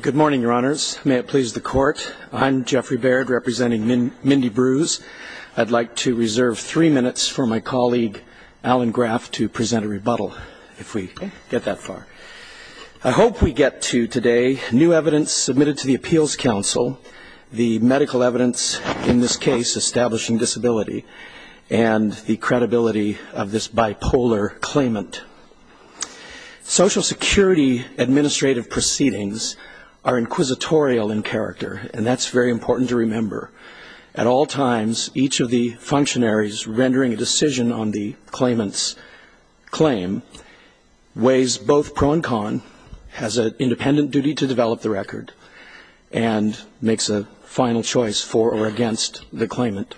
Good morning, your honors. May it please the court. I'm Jeffrey Baird, representing Mindy Brewes. I'd like to reserve three minutes for my colleague, Alan Graff, to present a rebuttal, if we get that far. I hope we get to today new evidence submitted to the Appeals Council, the medical evidence in this case establishing disability, and the credibility of this bipolar claimant. Social Security administrative proceedings are inquisitorial in character, and that's very important to remember. At all times, each of the functionaries rendering a decision on the claimant's claim weighs both pro and con, has an independent duty to develop the record, and makes a final choice for or against the claimant.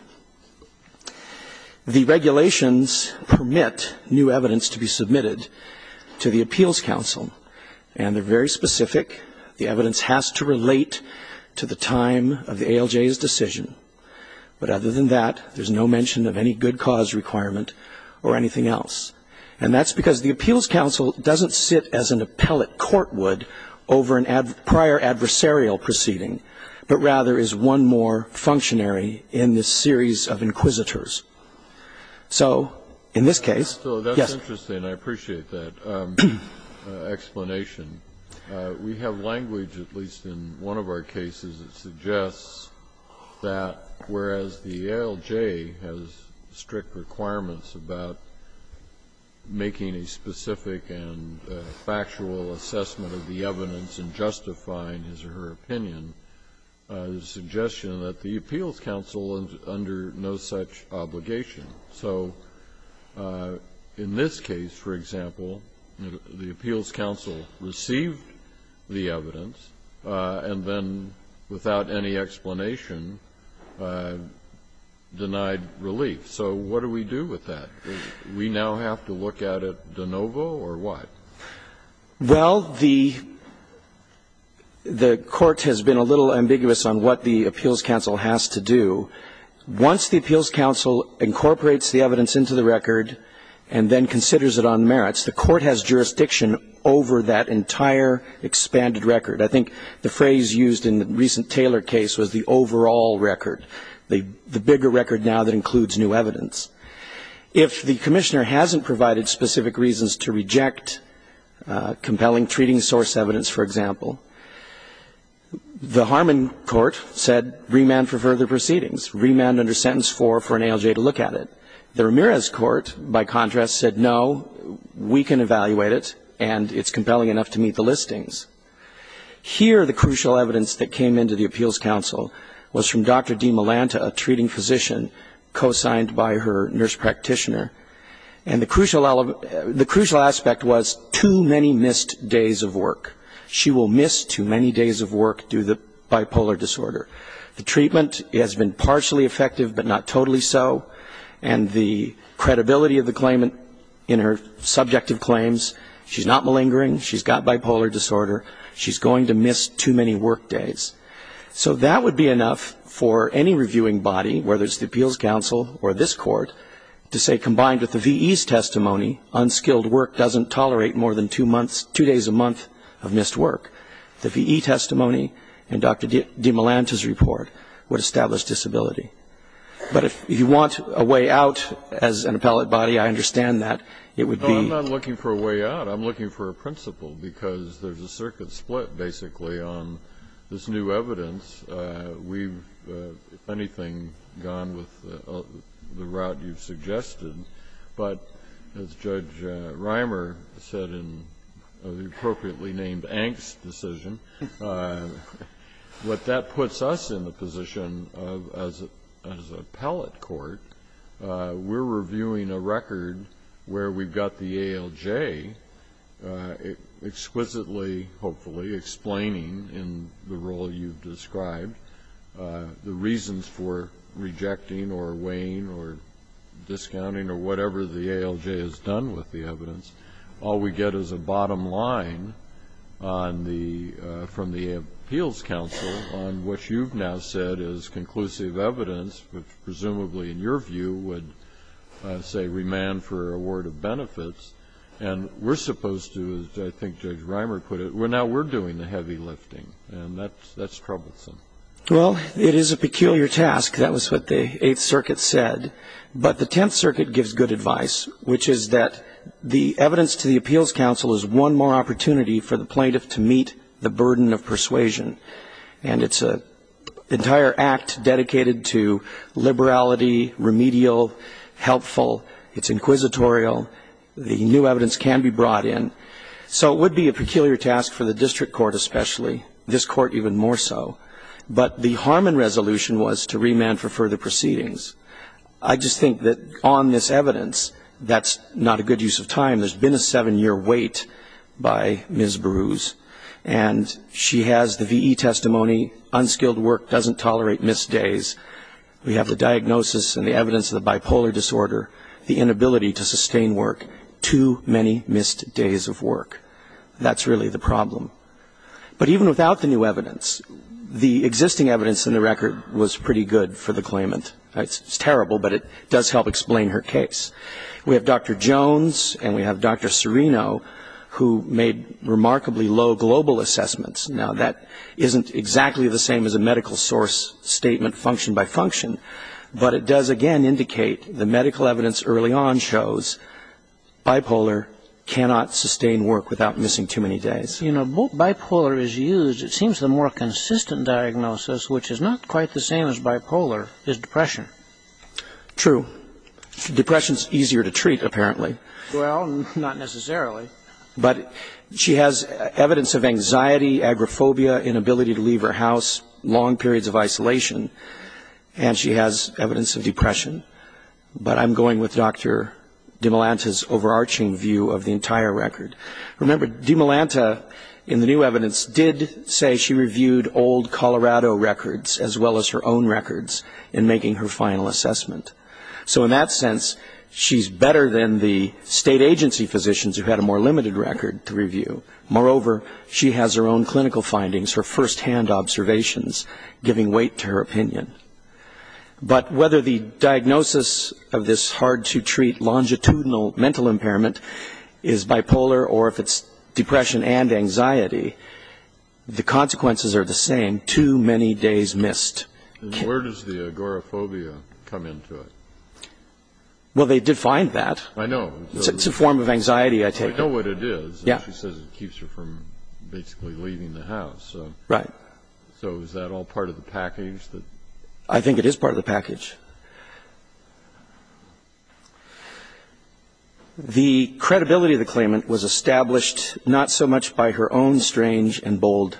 The regulations permit new evidence to be submitted to the Appeals Council, and they're very specific. The evidence has to relate to the time of the ALJ's decision. But other than that, there's no mention of any good cause requirement or anything else. And that's because the Appeals Council doesn't sit as an appellate court would over a prior adversarial proceeding, but rather is one more functionary in this series of inquisitors. So in this case, yes. Kennedy So that's interesting. I appreciate that explanation. We have language, at least in one of our cases, that suggests that whereas the ALJ has strict requirements about making a specific and factual assessment of the evidence and justifying his or her suggestion, that the Appeals Council is under no such obligation. So in this case, for example, the Appeals Council received the evidence and then, without any explanation, denied relief. So what do we do with that? Do we now have to look at it de novo, or what? Well, the Court has been a little ambiguous on what the Appeals Council has to do. Once the Appeals Council incorporates the evidence into the record and then considers it on merits, the Court has jurisdiction over that entire expanded record. I think the phrase used in the recent Taylor case was the overall record, the bigger record now that includes new evidence. If the Commissioner hasn't provided specific reasons to reject compelling treating source evidence, for example, the Harmon Court said remand for further proceedings, remand under Sentence 4 for an ALJ to look at it. The Ramirez Court, by contrast, said no, we can evaluate it and it's compelling enough to meet the listings. Here, the crucial evidence that came into the Appeals Council was from Dr. D. Melanta, a treating physician co-signed by her nurse practitioner, and the crucial aspect was too many missed days of work. She will miss too many days of work due to bipolar disorder. The treatment has been partially effective but not totally so, and the credibility of the claimant in her subjective claims, she's not malingering, she's got bipolar disorder, she's going to miss too many work days. So that would be enough for any reviewing body, whether it's the Appeals Council or this court, to say combined with the V.E.'s testimony, unskilled work doesn't tolerate more than two months, two days a month of missed work. The V.E. testimony and Dr. D. Melanta's report would establish disability. But if you want a way out as an appellate body, I understand that it would be I'm not looking for a way out. I'm looking for a principle because there's a circuit split, basically, on this new evidence. We've, if anything, gone with the route you've suggested. But as Judge Reimer said in the appropriately named Anks decision, what that puts us in the position of as an appellate court, we're reviewing a record where we've got the ALJ exquisitely, hopefully, explaining in the role you've described, the reasons for rejecting or weighing or discounting or whatever the ALJ has done with the evidence. All we get is a bottom line from the Appeals Council on what you've now said is conclusive evidence which presumably, in your view, would, say, remand for award of benefits. And we're supposed to, as I think Judge Reimer put it, now we're doing the heavy lifting. And that's troublesome. Well, it is a peculiar task. That was what the Eighth Circuit said. But the Tenth Circuit gives good advice, which is that the evidence to the Appeals Council is one more opportunity for the plaintiff to meet the burden of persuasion. And it's an entire act dedicated to liberality, remedial, helpful. It's inquisitorial. The new evidence can be brought in. So it would be a peculiar task for the district court especially, this court even more so. But the Harmon resolution was to remand for further proceedings. I just think that on this evidence, that's not a good use of time. There's been a seven-year wait by Ms. Brews. And she has the V.E. testimony, unskilled work doesn't tolerate missed days. We have the diagnosis and the evidence of the bipolar disorder, the inability to sustain work, too many missed days of work. That's really the problem. But even without the new evidence, the existing evidence in the record was pretty good for the claimant. It's terrible, but it does help explain her case. We have Dr. Jones, and we have Dr. Serino, who made remarkably low global assessments. Now, that isn't exactly the same as a medical source statement function by function, but it does again indicate the medical evidence early on shows bipolar cannot sustain work without missing too many days. You know, both bipolar is used. It seems the more consistent diagnosis, which is not quite the same as bipolar, is depression. True. Depression is easier to treat, apparently. Well, not necessarily. But she has evidence of anxiety, agoraphobia, inability to leave her house, long periods of isolation, and she has evidence of depression. But I'm going with Dr. DeMilanta's overarching view of the entire record. Remember, DeMilanta, in the new evidence, did say she reviewed old Colorado records, as well as her own records, in making her final assessment. So in that sense, she's better than the state agency physicians who had a more limited record to review. Moreover, she has her own clinical findings, her first-hand observations, giving weight to her opinion. But whether the diagnosis of this hard-to-treat longitudinal mental impairment is bipolar or if it's depression and anxiety, the consequences are the same. Too many days missed. And where does the agoraphobia come into it? Well, they defined that. I know. It's a form of anxiety, I take it. I know what it is, and she says it keeps her from basically leaving the house. Right. So is that all part of the package? I think it is part of the package. The credibility of the claimant was established not so much by her own strange and bold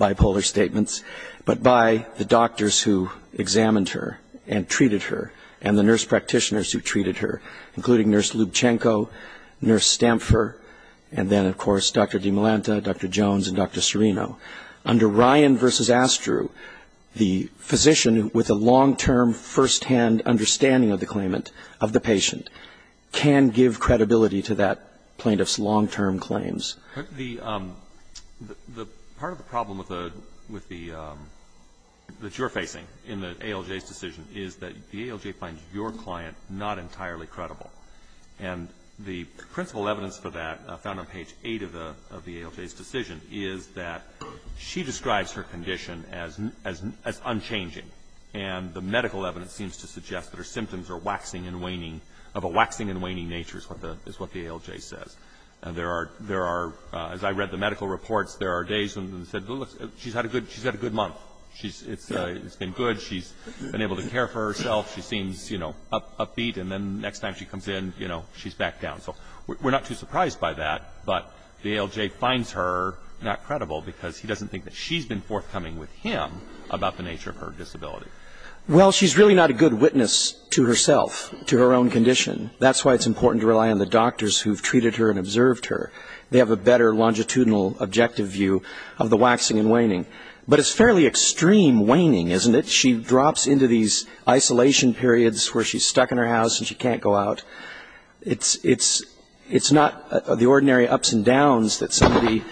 bipolar statements, but by the doctors who examined her and treated her, and the nurse practitioners who treated her, including Nurse Lubchenco, Nurse Stamfer, and then, of course, Dr. DeMilanta, Dr. Jones, and Dr. Serino. Under Ryan v. Astru, the physician with a long-term first-hand understanding of the claimant, of the patient, can give credibility to that plaintiff's long-term claims. The part of the problem with the ‑‑ that you're facing in the ALJ's decision is that the ALJ finds your client not entirely credible. And the principal evidence for that, found on page 8 of the ALJ's decision, is that she describes her condition as unchanging. And the medical evidence seems to suggest that her symptoms are waxing and waning, of a waxing and waning nature, is what the ALJ says. As I read the medical reports, there are days when they said, look, she's had a good month. It's been good. She's been able to care for herself. She seems, you know, upbeat. And then the next time she comes in, you know, she's back down. So we're not too surprised by that. But the ALJ finds her not credible because he doesn't think that she's been forthcoming with him about the nature of her disability. Well, she's really not a good witness to herself, to her own condition. That's why it's important to rely on the doctors who've treated her and observed her. They have a better longitudinal objective view of the waxing and waning. But it's fairly extreme waning, isn't it? She drops into these isolation periods where she's stuck in her house and she can't go out. It's not the ordinary ups and downs that somebody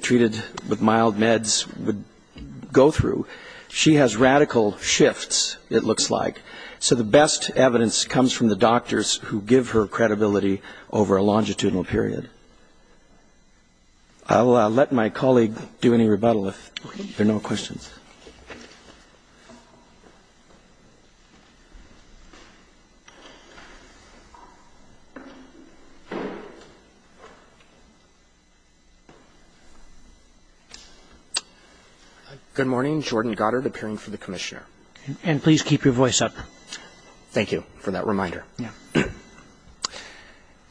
treated with mild meds would go through. She has radical shifts, it looks like. So the best evidence comes from the doctors who give her credibility over a longitudinal period. I'll let my colleague do any rebuttal if there are no questions. Good morning. Jordan Goddard, appearing for the Commissioner. And please keep your voice up. Thank you for that reminder.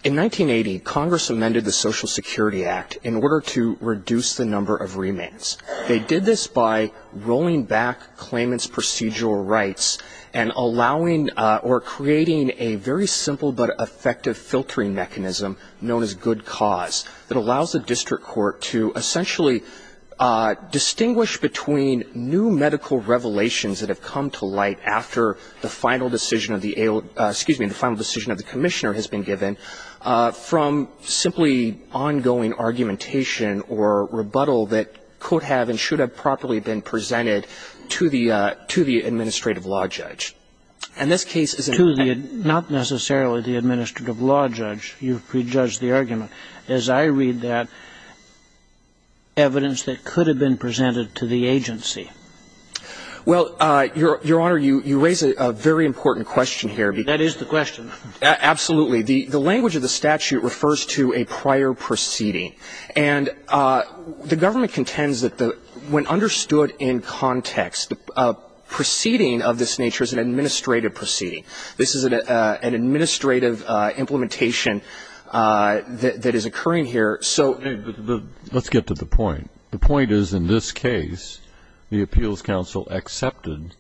In 1980, Congress amended the Social Security Act in order to reduce the number of remains. They did this by rolling back claimants' procedural rights and allowing or creating a very simple but effective filtering mechanism known as good cause that allows the district court to essentially distinguish between new medical revelations that have come to light after the final decision of the Commissioner has been given from simply ongoing argumentation or rebuttal that could have and should have properly been presented to the administrative law judge. To the, not necessarily the administrative law judge. You've prejudged the argument. As I read that, evidence that could have been presented to the agency. Well, Your Honor, you raise a very important question here. That is the question. Absolutely. The language of the statute refers to a prior proceeding. And the government contends that when understood in context, a proceeding of this nature is an administrative proceeding. This is an administrative implementation that is occurring here. Let's get to the point. The point is, in this case, the Appeals Council accepted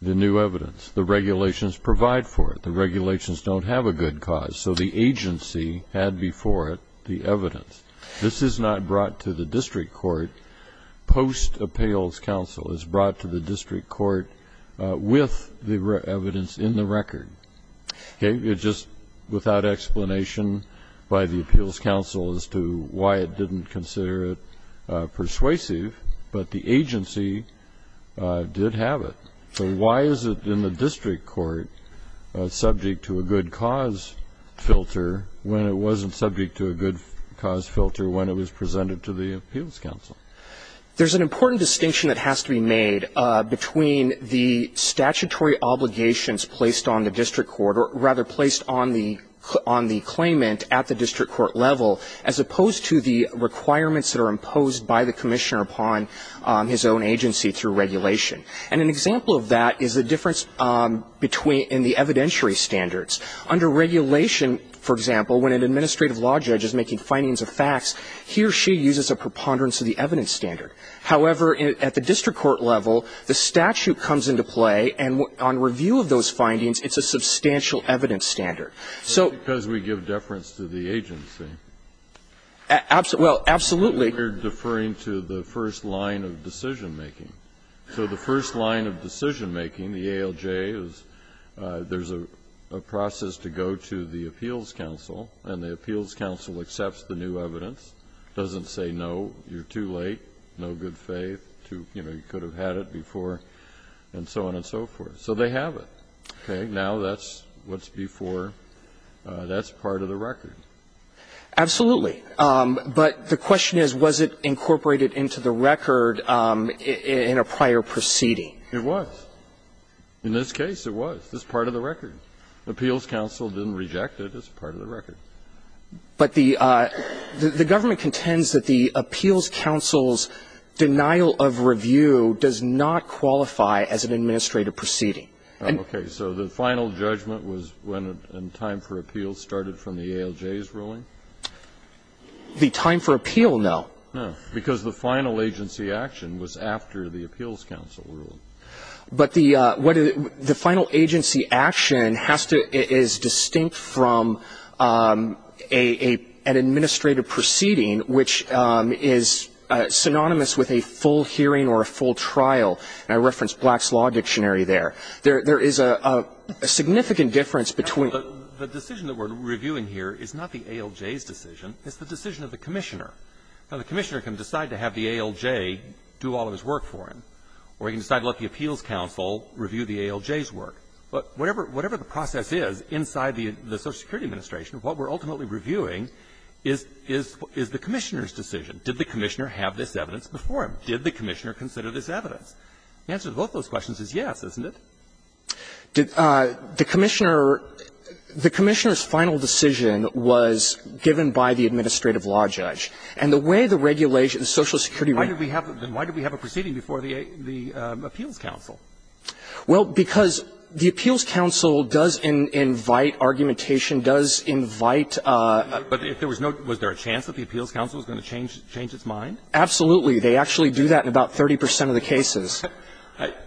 the new evidence. The regulations provide for it. The regulations don't have a good cause. So the agency had before it the evidence. This is not brought to the district court. Post-Appeals Council is brought to the district court with the evidence in the record. Okay. It's just without explanation by the Appeals Council as to why it didn't consider it persuasive. But the agency did have it. So why is it in the district court subject to a good cause filter when it wasn't subject to a good cause filter when it was presented to the Appeals Council? There's an important distinction that has to be made between the statutory obligations placed on the district court, or rather placed on the claimant at the district court level, as opposed to the requirements that are imposed by the commissioner upon his own agency through regulation. And an example of that is the difference between the evidentiary standards. Under regulation, for example, when an administrative law judge is making findings of facts, he or she uses a preponderance of the evidence standard. However, at the district court level, the statute comes into play, and on review of those findings, it's a substantial evidence standard. So we give deference to the agency. Well, absolutely. We're deferring to the first line of decision making. So the first line of decision making, the ALJ, is there's a process to go to the Appeals Council, and the Appeals Council just doesn't say, no, you're too late, no good faith, you could have had it before, and so on and so forth. So they have it. Okay? Now that's what's before. That's part of the record. Absolutely. But the question is, was it incorporated into the record in a prior proceeding? It was. In this case, it was. It's part of the record. The Appeals Council didn't reject it. It's part of the record. But the government contends that the Appeals Council's denial of review does not qualify as an administrative proceeding. Okay. So the final judgment was when time for appeals started from the ALJ's ruling? The time for appeal, no. No. Because the final agency action was after the Appeals Council ruling. But the final agency action has to be distinct from an administrative proceeding which is synonymous with a full hearing or a full trial. And I referenced Black's Law Dictionary there. There is a significant difference between the two. The decision that we're reviewing here is not the ALJ's decision. It's the decision of the Commissioner. Now, the Commissioner can decide to have the ALJ do all of his work for him, or he can decide to let the Appeals Council review the ALJ's work. But whatever the process is inside the Social Security Administration, what we're ultimately reviewing is the Commissioner's decision. Did the Commissioner have this evidence before him? Did the Commissioner consider this evidence? The answer to both of those questions is yes, isn't it? The Commissioner's final decision was given by the administrative law judge. And the way the regulation, the Social Security law judge. Then why did we have a proceeding before the Appeals Council? Well, because the Appeals Council does invite argumentation, does invite. But if there was no, was there a chance that the Appeals Council was going to change its mind? Absolutely. They actually do that in about 30 percent of the cases.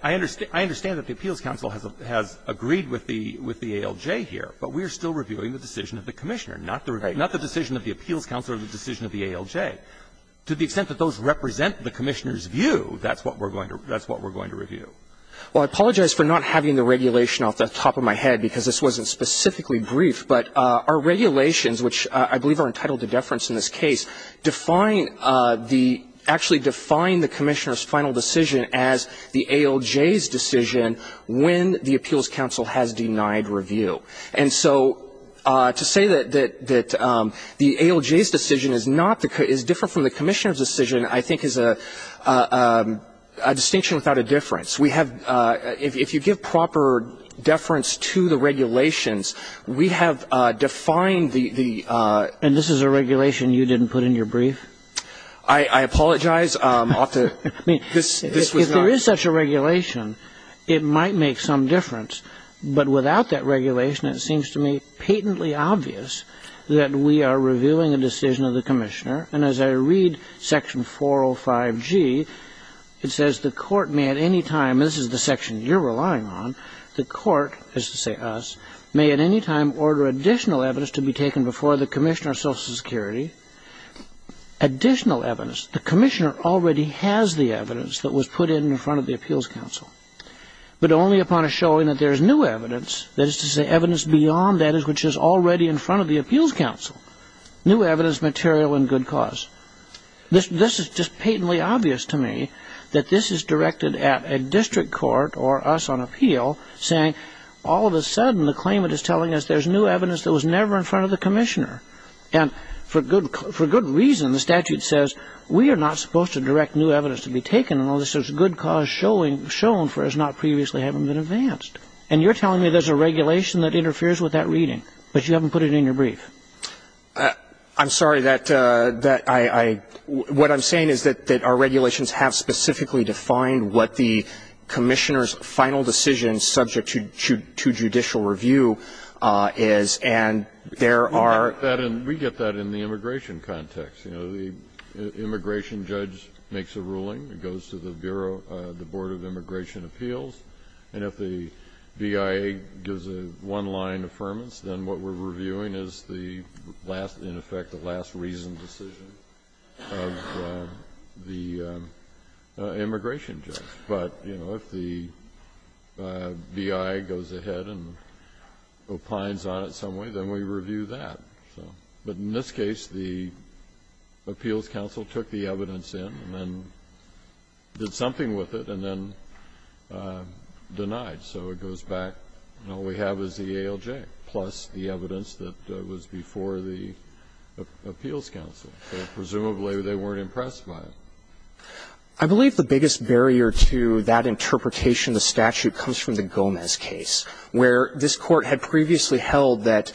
I understand that the Appeals Council has agreed with the ALJ here, but we're still reviewing the decision of the Commissioner, not the decision of the Appeals Council or the decision of the ALJ. To the extent that those represent the Commissioner's view, that's what we're going to review. Well, I apologize for not having the regulation off the top of my head, because this wasn't specifically brief. But our regulations, which I believe are entitled to deference in this case, define the, actually define the Commissioner's final decision as the ALJ's decision when the Appeals Council has denied review. And so to say that the ALJ's decision is not the, is different from the Commissioner's decision, I think is a distinction without a difference. We have, if you give proper deference to the regulations, we have defined the. And this is a regulation you didn't put in your brief? I apologize. I mean, if there is such a regulation, it might make some difference. But without that regulation, it seems to me patently obvious that we are reviewing a decision of the Commissioner. And as I read section 405G, it says the court may at any time, this is the section you're relying on, the court, is to say us, may at any time order additional evidence to be taken before the Commissioner of Social Security. Additional evidence. The Commissioner already has the evidence that was put in in front of the Appeals Council. But only upon a showing that there is new evidence, that is to say evidence beyond that is which is already in front of the Appeals Council. New evidence, material, and good cause. This is just patently obvious to me that this is directed at a district court or us on appeal saying all of a sudden the claimant is telling us there's new evidence that was never in front of the Commissioner. And for good reason, the statute says we are not supposed to direct new evidence to be shown for as not previously having been advanced. And you're telling me there's a regulation that interferes with that reading, but you haven't put it in your brief. I'm sorry. That I what I'm saying is that our regulations have specifically defined what the Commissioner's final decision subject to judicial review is, and there are. We get that in the immigration context. You know, the immigration judge makes a ruling. It goes to the Bureau, the Board of Immigration Appeals. And if the BIA gives a one-line affirmance, then what we're reviewing is the last in effect, the last reasoned decision of the immigration judge. But, you know, if the BIA goes ahead and opines on it some way, then we review that. So, but in this case, the appeals counsel took the evidence in and then did something with it and then denied. So it goes back, and all we have is the ALJ, plus the evidence that was before the appeals counsel. So presumably they weren't impressed by it. I believe the biggest barrier to that interpretation of the statute comes from the Gomez case, where this Court had previously held that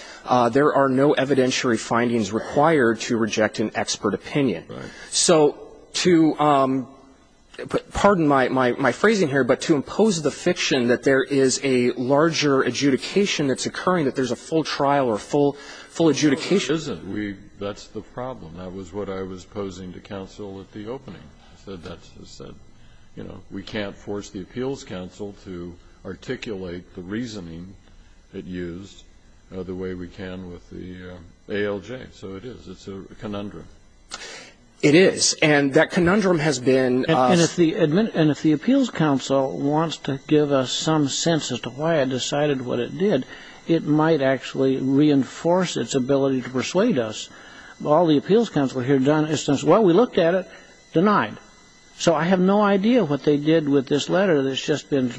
there are no evidentiary findings required to reject an expert opinion. So to pardon my phrasing here, but to impose the fiction that there is a larger adjudication that's occurring, that there's a full trial or full adjudication. That's the problem. That was what I was posing to counsel at the opening. I said, you know, we can't force the appeals counsel to articulate the reasoning that used the way we can with the ALJ. So it is. It's a conundrum. It is. And that conundrum has been. And if the appeals counsel wants to give us some sense as to why it decided what it did, it might actually reinforce its ability to persuade us. All the appeals counsel here have done is say, well, we looked at it. Denied. So I have no idea what they did with this letter that's just been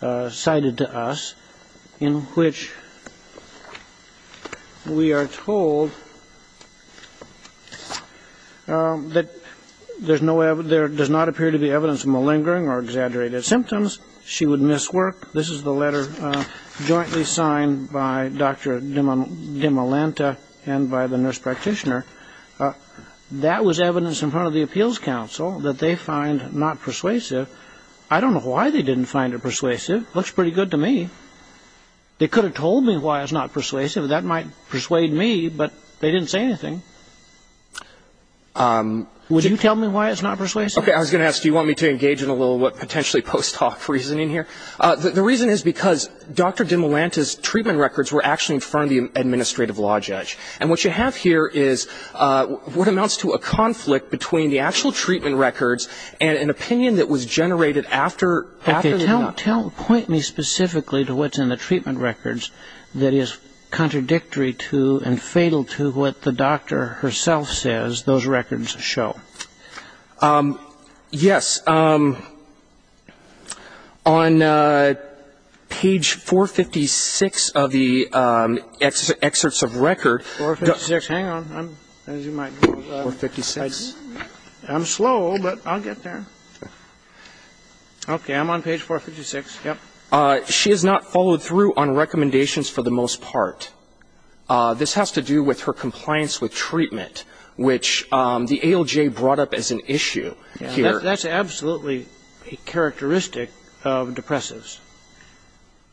cited to us, in which we are told that there does not appear to be evidence of malingering or exaggerated symptoms. She would miss work. This is the letter jointly signed by Dr. Demalanta and by the nurse practitioner. That was evidence in front of the appeals counsel that they find not persuasive. I don't know why they didn't find it persuasive. Looks pretty good to me. They could have told me why it's not persuasive. That might persuade me, but they didn't say anything. Would you tell me why it's not persuasive? Okay. I was going to ask, do you want me to engage in a little potentially post hoc reasoning here? The reason is because Dr. Demalanta's treatment records were actually in front of the administrative law judge. And what you have here is what amounts to a conflict between the actual treatment records and an opinion that was generated after the doctor. Okay. Point me specifically to what's in the treatment records that is contradictory to and fatal to what the doctor herself says those records show. Yes. On page 456 of the excerpts of record. 456. Hang on. 456. I'm slow, but I'll get there. Okay. I'm on page 456. Yep. She has not followed through on recommendations for the most part. This has to do with her compliance with treatment, which the ALJ brought up as an issue here. That's absolutely a characteristic of depressives,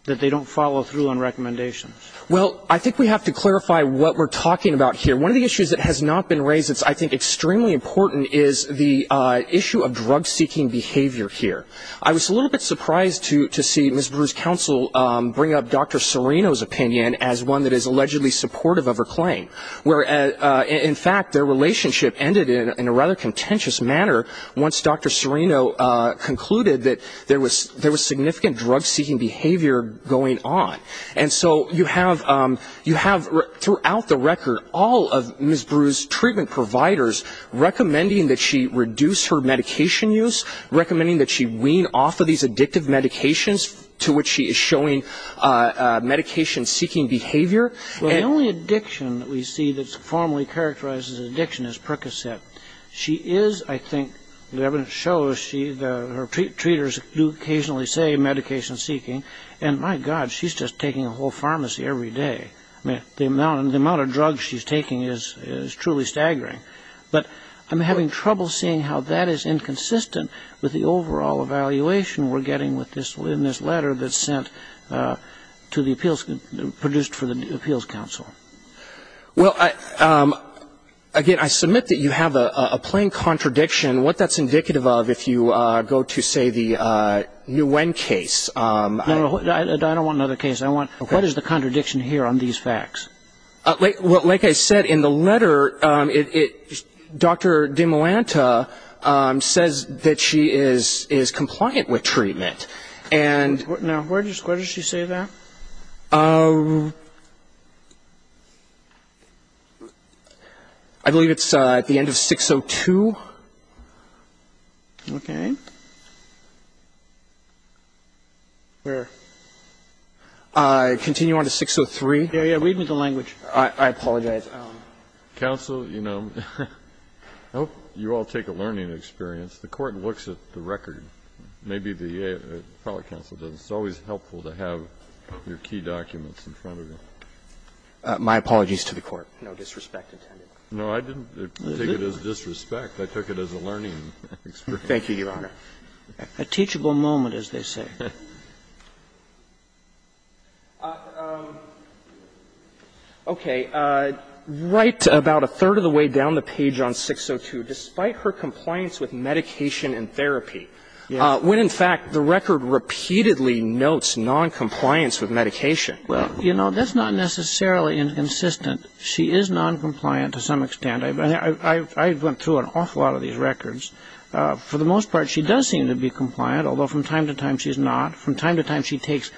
that they don't follow through on recommendations. Well, I think we have to clarify what we're talking about here. One of the issues that has not been raised that's, I think, extremely important is the issue of drug-seeking behavior here. I was a little bit surprised to see Ms. Brew's counsel bring up Dr. Serino's opinion as one that is allegedly supportive of her claim, where in fact their relationship ended in a rather contentious manner once Dr. Serino concluded that there was significant drug-seeking behavior going on. And so you have throughout the record all of Ms. Brew's treatment providers recommending that she reduce her medication use, recommending that she wean off of these addictive medications, to which she is showing medication-seeking behavior. Well, the only addiction that we see that formally characterizes addiction is Percocet. She is, I think, the evidence shows, her treaters do occasionally say medication-seeking, and my God, she's just taking a whole pharmacy every day. I mean, the amount of drugs she's taking is truly staggering. But I'm having trouble seeing how that is inconsistent with the overall evaluation we're getting in this letter that's sent to the appeals, produced for the appeals counsel. Well, again, I submit that you have a plain contradiction. What that's indicative of, if you go to, say, the Nguyen case. I don't want another case. What is the contradiction here on these facts? Well, like I said, in the letter, Dr. DeMolanta says that she is compliant with treatment. Now, where does she say that? I believe it's at the end of 602. Okay. Where? Continue on to 603. Read me the language. I apologize. Counsel, you know, I hope you all take a learning experience. The Court looks at the record. Maybe the appellate counsel doesn't. It's always helpful to have your key documents in front of you. My apologies to the Court. No disrespect intended. No, I didn't take it as disrespect. I took it as a learning experience. Thank you, Your Honor. A teachable moment, as they say. Okay. Right about a third of the way down the page on 602, despite her compliance with medication and therapy, when, in fact, the record repeatedly notes noncompliance with medication. Well, you know, that's not necessarily inconsistent. She is noncompliant to some extent. I went through an awful lot of these records. For the most part, she does seem to be compliant, although from time to time she's not. From time to time she takes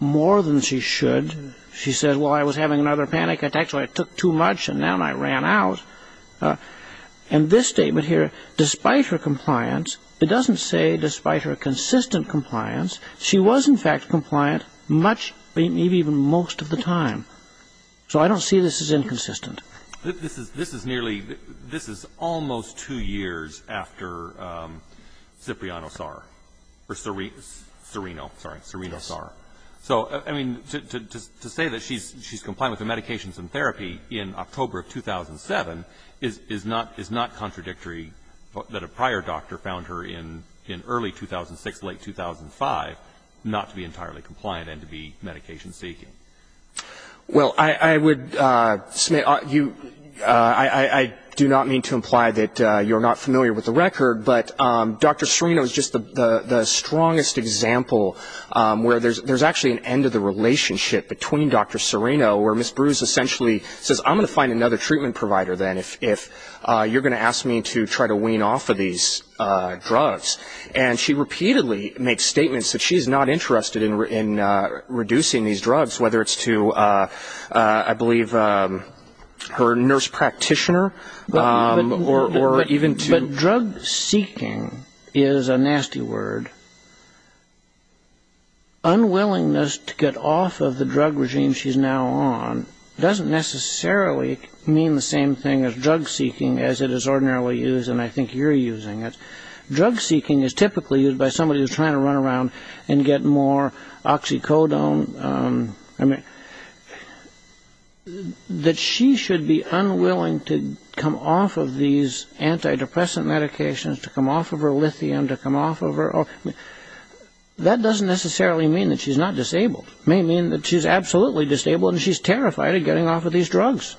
more than she should. She says, well, I was having another panic attack, so I took too much, and now I ran out. And this statement here, despite her compliance, it doesn't say despite her consistent compliance. She was, in fact, compliant much, maybe even most of the time. So I don't see this as inconsistent. This is nearly, this is almost two years after Cipriano-Sarr, or Serino, sorry, Serino-Sarr. So, I mean, to say that she's compliant with the medications and therapy in October of 2007 is not contradictory that a prior doctor found her in early 2006, late 2005, not to be entirely compliant and to be medication-seeking. Well, I would, Smith, I do not mean to imply that you're not familiar with the record, but Dr. Serino is just the strongest example where there's actually an end of the relationship between Dr. Serino where Ms. Bruce essentially says, I'm going to find another treatment provider then if you're going to ask me to try to wean off of these drugs. And she repeatedly makes statements that she's not interested in reducing these drugs, whether it's to, I believe, her nurse practitioner or even to... But drug-seeking is a nasty word. Unwillingness to get off of the drug regime she's now on doesn't necessarily mean the same thing as drug-seeking as it is ordinarily used, and I think you're using it. Drug-seeking is typically used by somebody who's trying to run around and get more oxycodone. That she should be unwilling to come off of these antidepressant medications, to come off of her lithium, to come off of her... That doesn't necessarily mean that she's not disabled. It may mean that she's absolutely disabled and she's terrified of getting off of these drugs.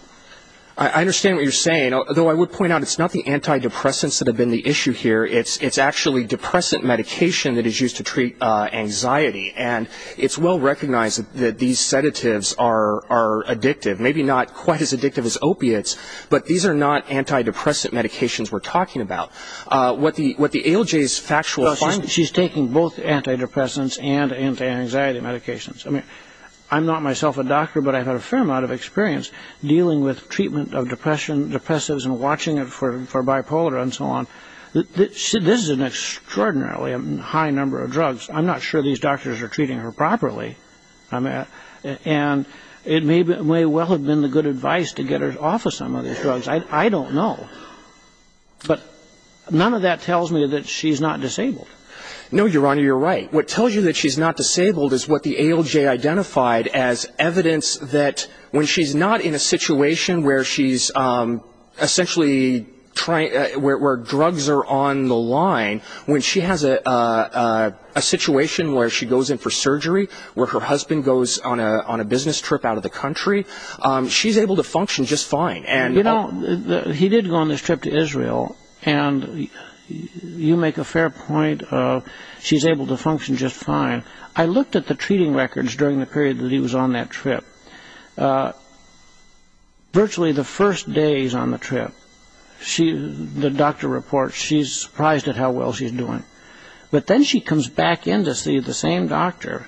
I understand what you're saying, although I would point out it's not the antidepressants that have been the issue here. It's actually depressant medication that is used to treat anxiety, and it's well recognized that these sedatives are addictive, maybe not quite as addictive as opiates, but these are not antidepressant medications we're talking about. What the ALJ's factual findings... She's taking both antidepressants and anti-anxiety medications. I'm not myself a doctor, but I've had a fair amount of experience dealing with treatment of depressives and watching it for bipolar and so on. This is an extraordinarily high number of drugs. I'm not sure these doctors are treating her properly. And it may well have been the good advice to get her off of some of these drugs. I don't know. But none of that tells me that she's not disabled. No, Your Honor, you're right. What tells you that she's not disabled is what the ALJ identified as evidence that when she's not in a situation where drugs are on the line, when she has a situation where she goes in for surgery, where her husband goes on a business trip out of the country, she's able to function just fine. You know, he did go on this trip to Israel, and you make a fair point of she's able to function just fine. I looked at the treating records during the period that he was on that trip. Virtually the first day he's on the trip, the doctor reports she's surprised at how well she's doing. But then she comes back in to see the same doctor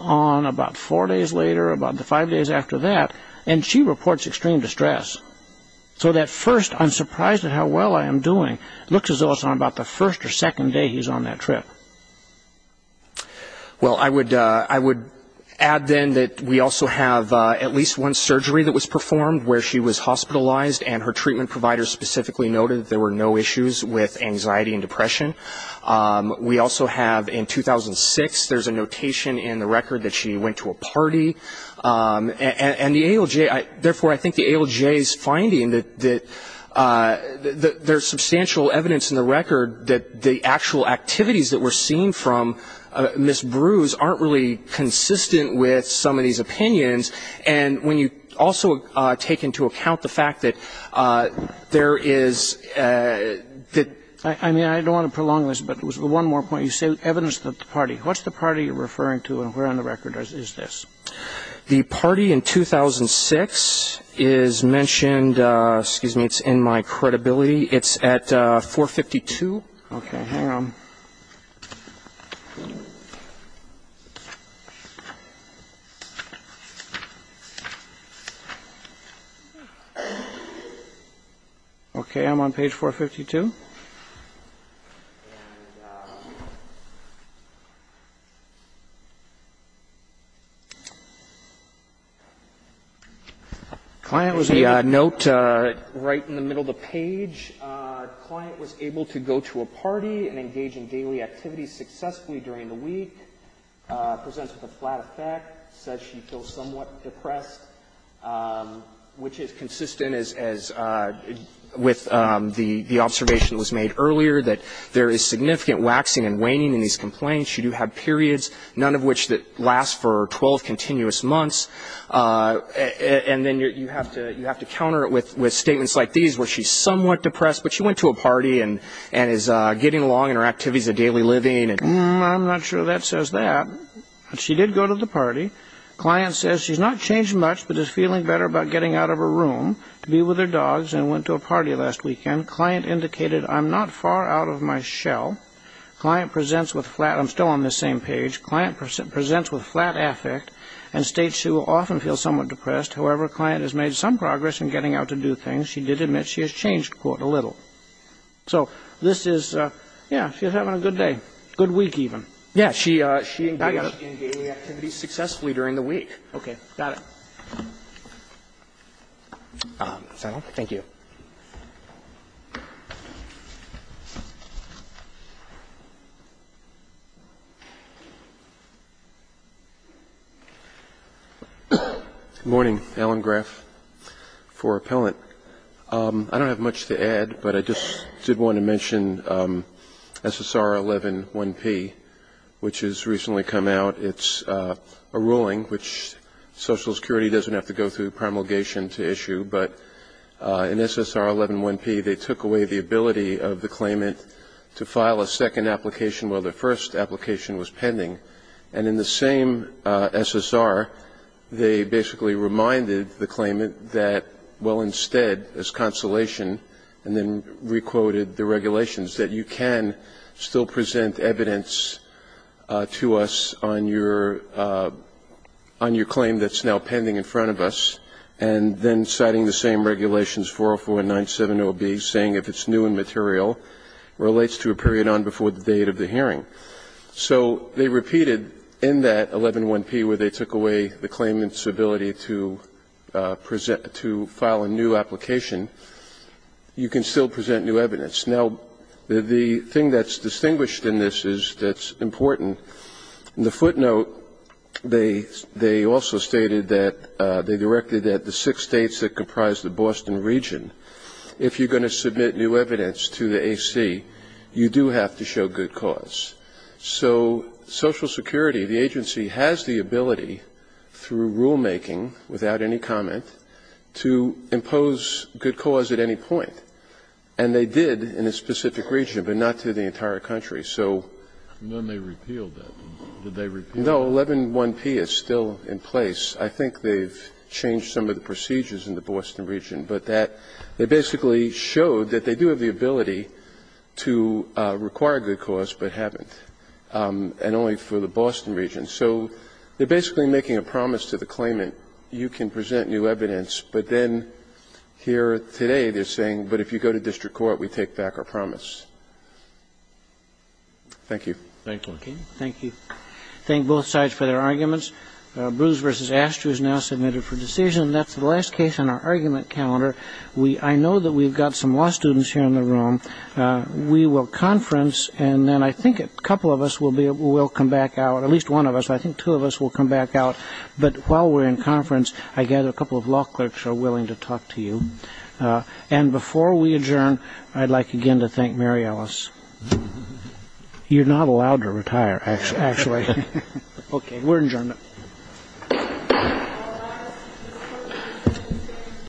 on about four days later, about five days after that, and she reports extreme distress. So that first, I'm surprised at how well I am doing, looks as though it's on about the first or second day he's on that trip. Well, I would add then that we also have at least one surgery that was performed where she was hospitalized, and her treatment provider specifically noted there were no issues with anxiety and depression. We also have in 2006, there's a notation in the record that she went to a party. And the ALJ, therefore, I think the ALJ's finding that there's substantial evidence in the record that the actual activities that we're seeing from Ms. Brews aren't really consistent with some of these opinions. And when you also take into account the fact that there is the ---- I mean, I don't want to prolong this, but one more point. You say evidence of the party. What's the party you're referring to, and where on the record is this? The party in 2006 is mentioned, excuse me, it's in my credibility. It's at 452. Okay, hang on. Okay, I'm on page 452. Client was the note right in the middle of the page. Client was able to go to a party and engage in daily activities successfully during the week. Presents with a flat effect. Says she feels somewhat depressed, which is consistent as with the observation that was made earlier that there is significant waxing and waning in these complaints. You do have periods, none of which last for 12 continuous months. And then you have to counter it with statements like these where she's somewhat depressed, but she went to a party and is getting along in her activities of daily living. I'm not sure that says that. She did go to the party. Client says she's not changed much, but is feeling better about getting out of her room to be with her dogs and went to a party last weekend. Client indicated, I'm not far out of my shell. Client presents with flat, I'm still on this same page. Client presents with flat affect and states she will often feel somewhat depressed. However, client has made some progress in getting out to do things. She did admit she has changed, quote, a little. So this is, yeah, she's having a good day, good week even. Yeah, she engaged in daily activities successfully during the week. Okay. Got it. Thank you. Good morning. Alan Graff for Appellant. I don't have much to add, but I just did want to mention SSR 111P, which has recently come out. It's a ruling which Social Security doesn't have to go through promulgation to issue. But in SSR 111P, they took away the ability of the claimant to file a second application while the first application was pending. And in the same SSR, they basically reminded the claimant that, well, instead, as consolation, and then re-quoted the regulations, that you can still present evidence to us on your claim that's now pending in front of us. And then citing the same regulations, 404 and 970B, saying if it's new in material, relates to a period on before the date of the hearing. So they repeated in that 111P where they took away the claimant's ability to present to file a new application, you can still present new evidence. Now, the thing that's distinguished in this is that's important. In the footnote, they also stated that they directed that the six states that comprise the Boston region, if you're going to submit new evidence to the AC, you do have to show good cause. So Social Security, the agency, has the ability, through rulemaking without any comment, to impose good cause at any point. And they did in a specific region, but not to the entire country. So they repealed that. Did they repeal it? No, 111P is still in place. I think they've changed some of the procedures in the Boston region. But that they basically showed that they do have the ability to require good cause, but haven't, and only for the Boston region. So they're basically making a promise to the claimant, you can present new evidence, but then here today they're saying, but if you go to district court, we take back our promise. Thank you. Thank you. Thank you. Thank both sides for their arguments. Bruce v. Astor is now submitted for decision. That's the last case on our argument calendar. I know that we've got some law students here in the room. We will conference, and then I think a couple of us will come back out, at least one of us. I think two of us will come back out. But while we're in conference, I gather a couple of law clerks are willing to talk to you. And before we adjourn, I'd like again to thank Mary Ellis. You're not allowed to retire, actually. OK, we're adjourned.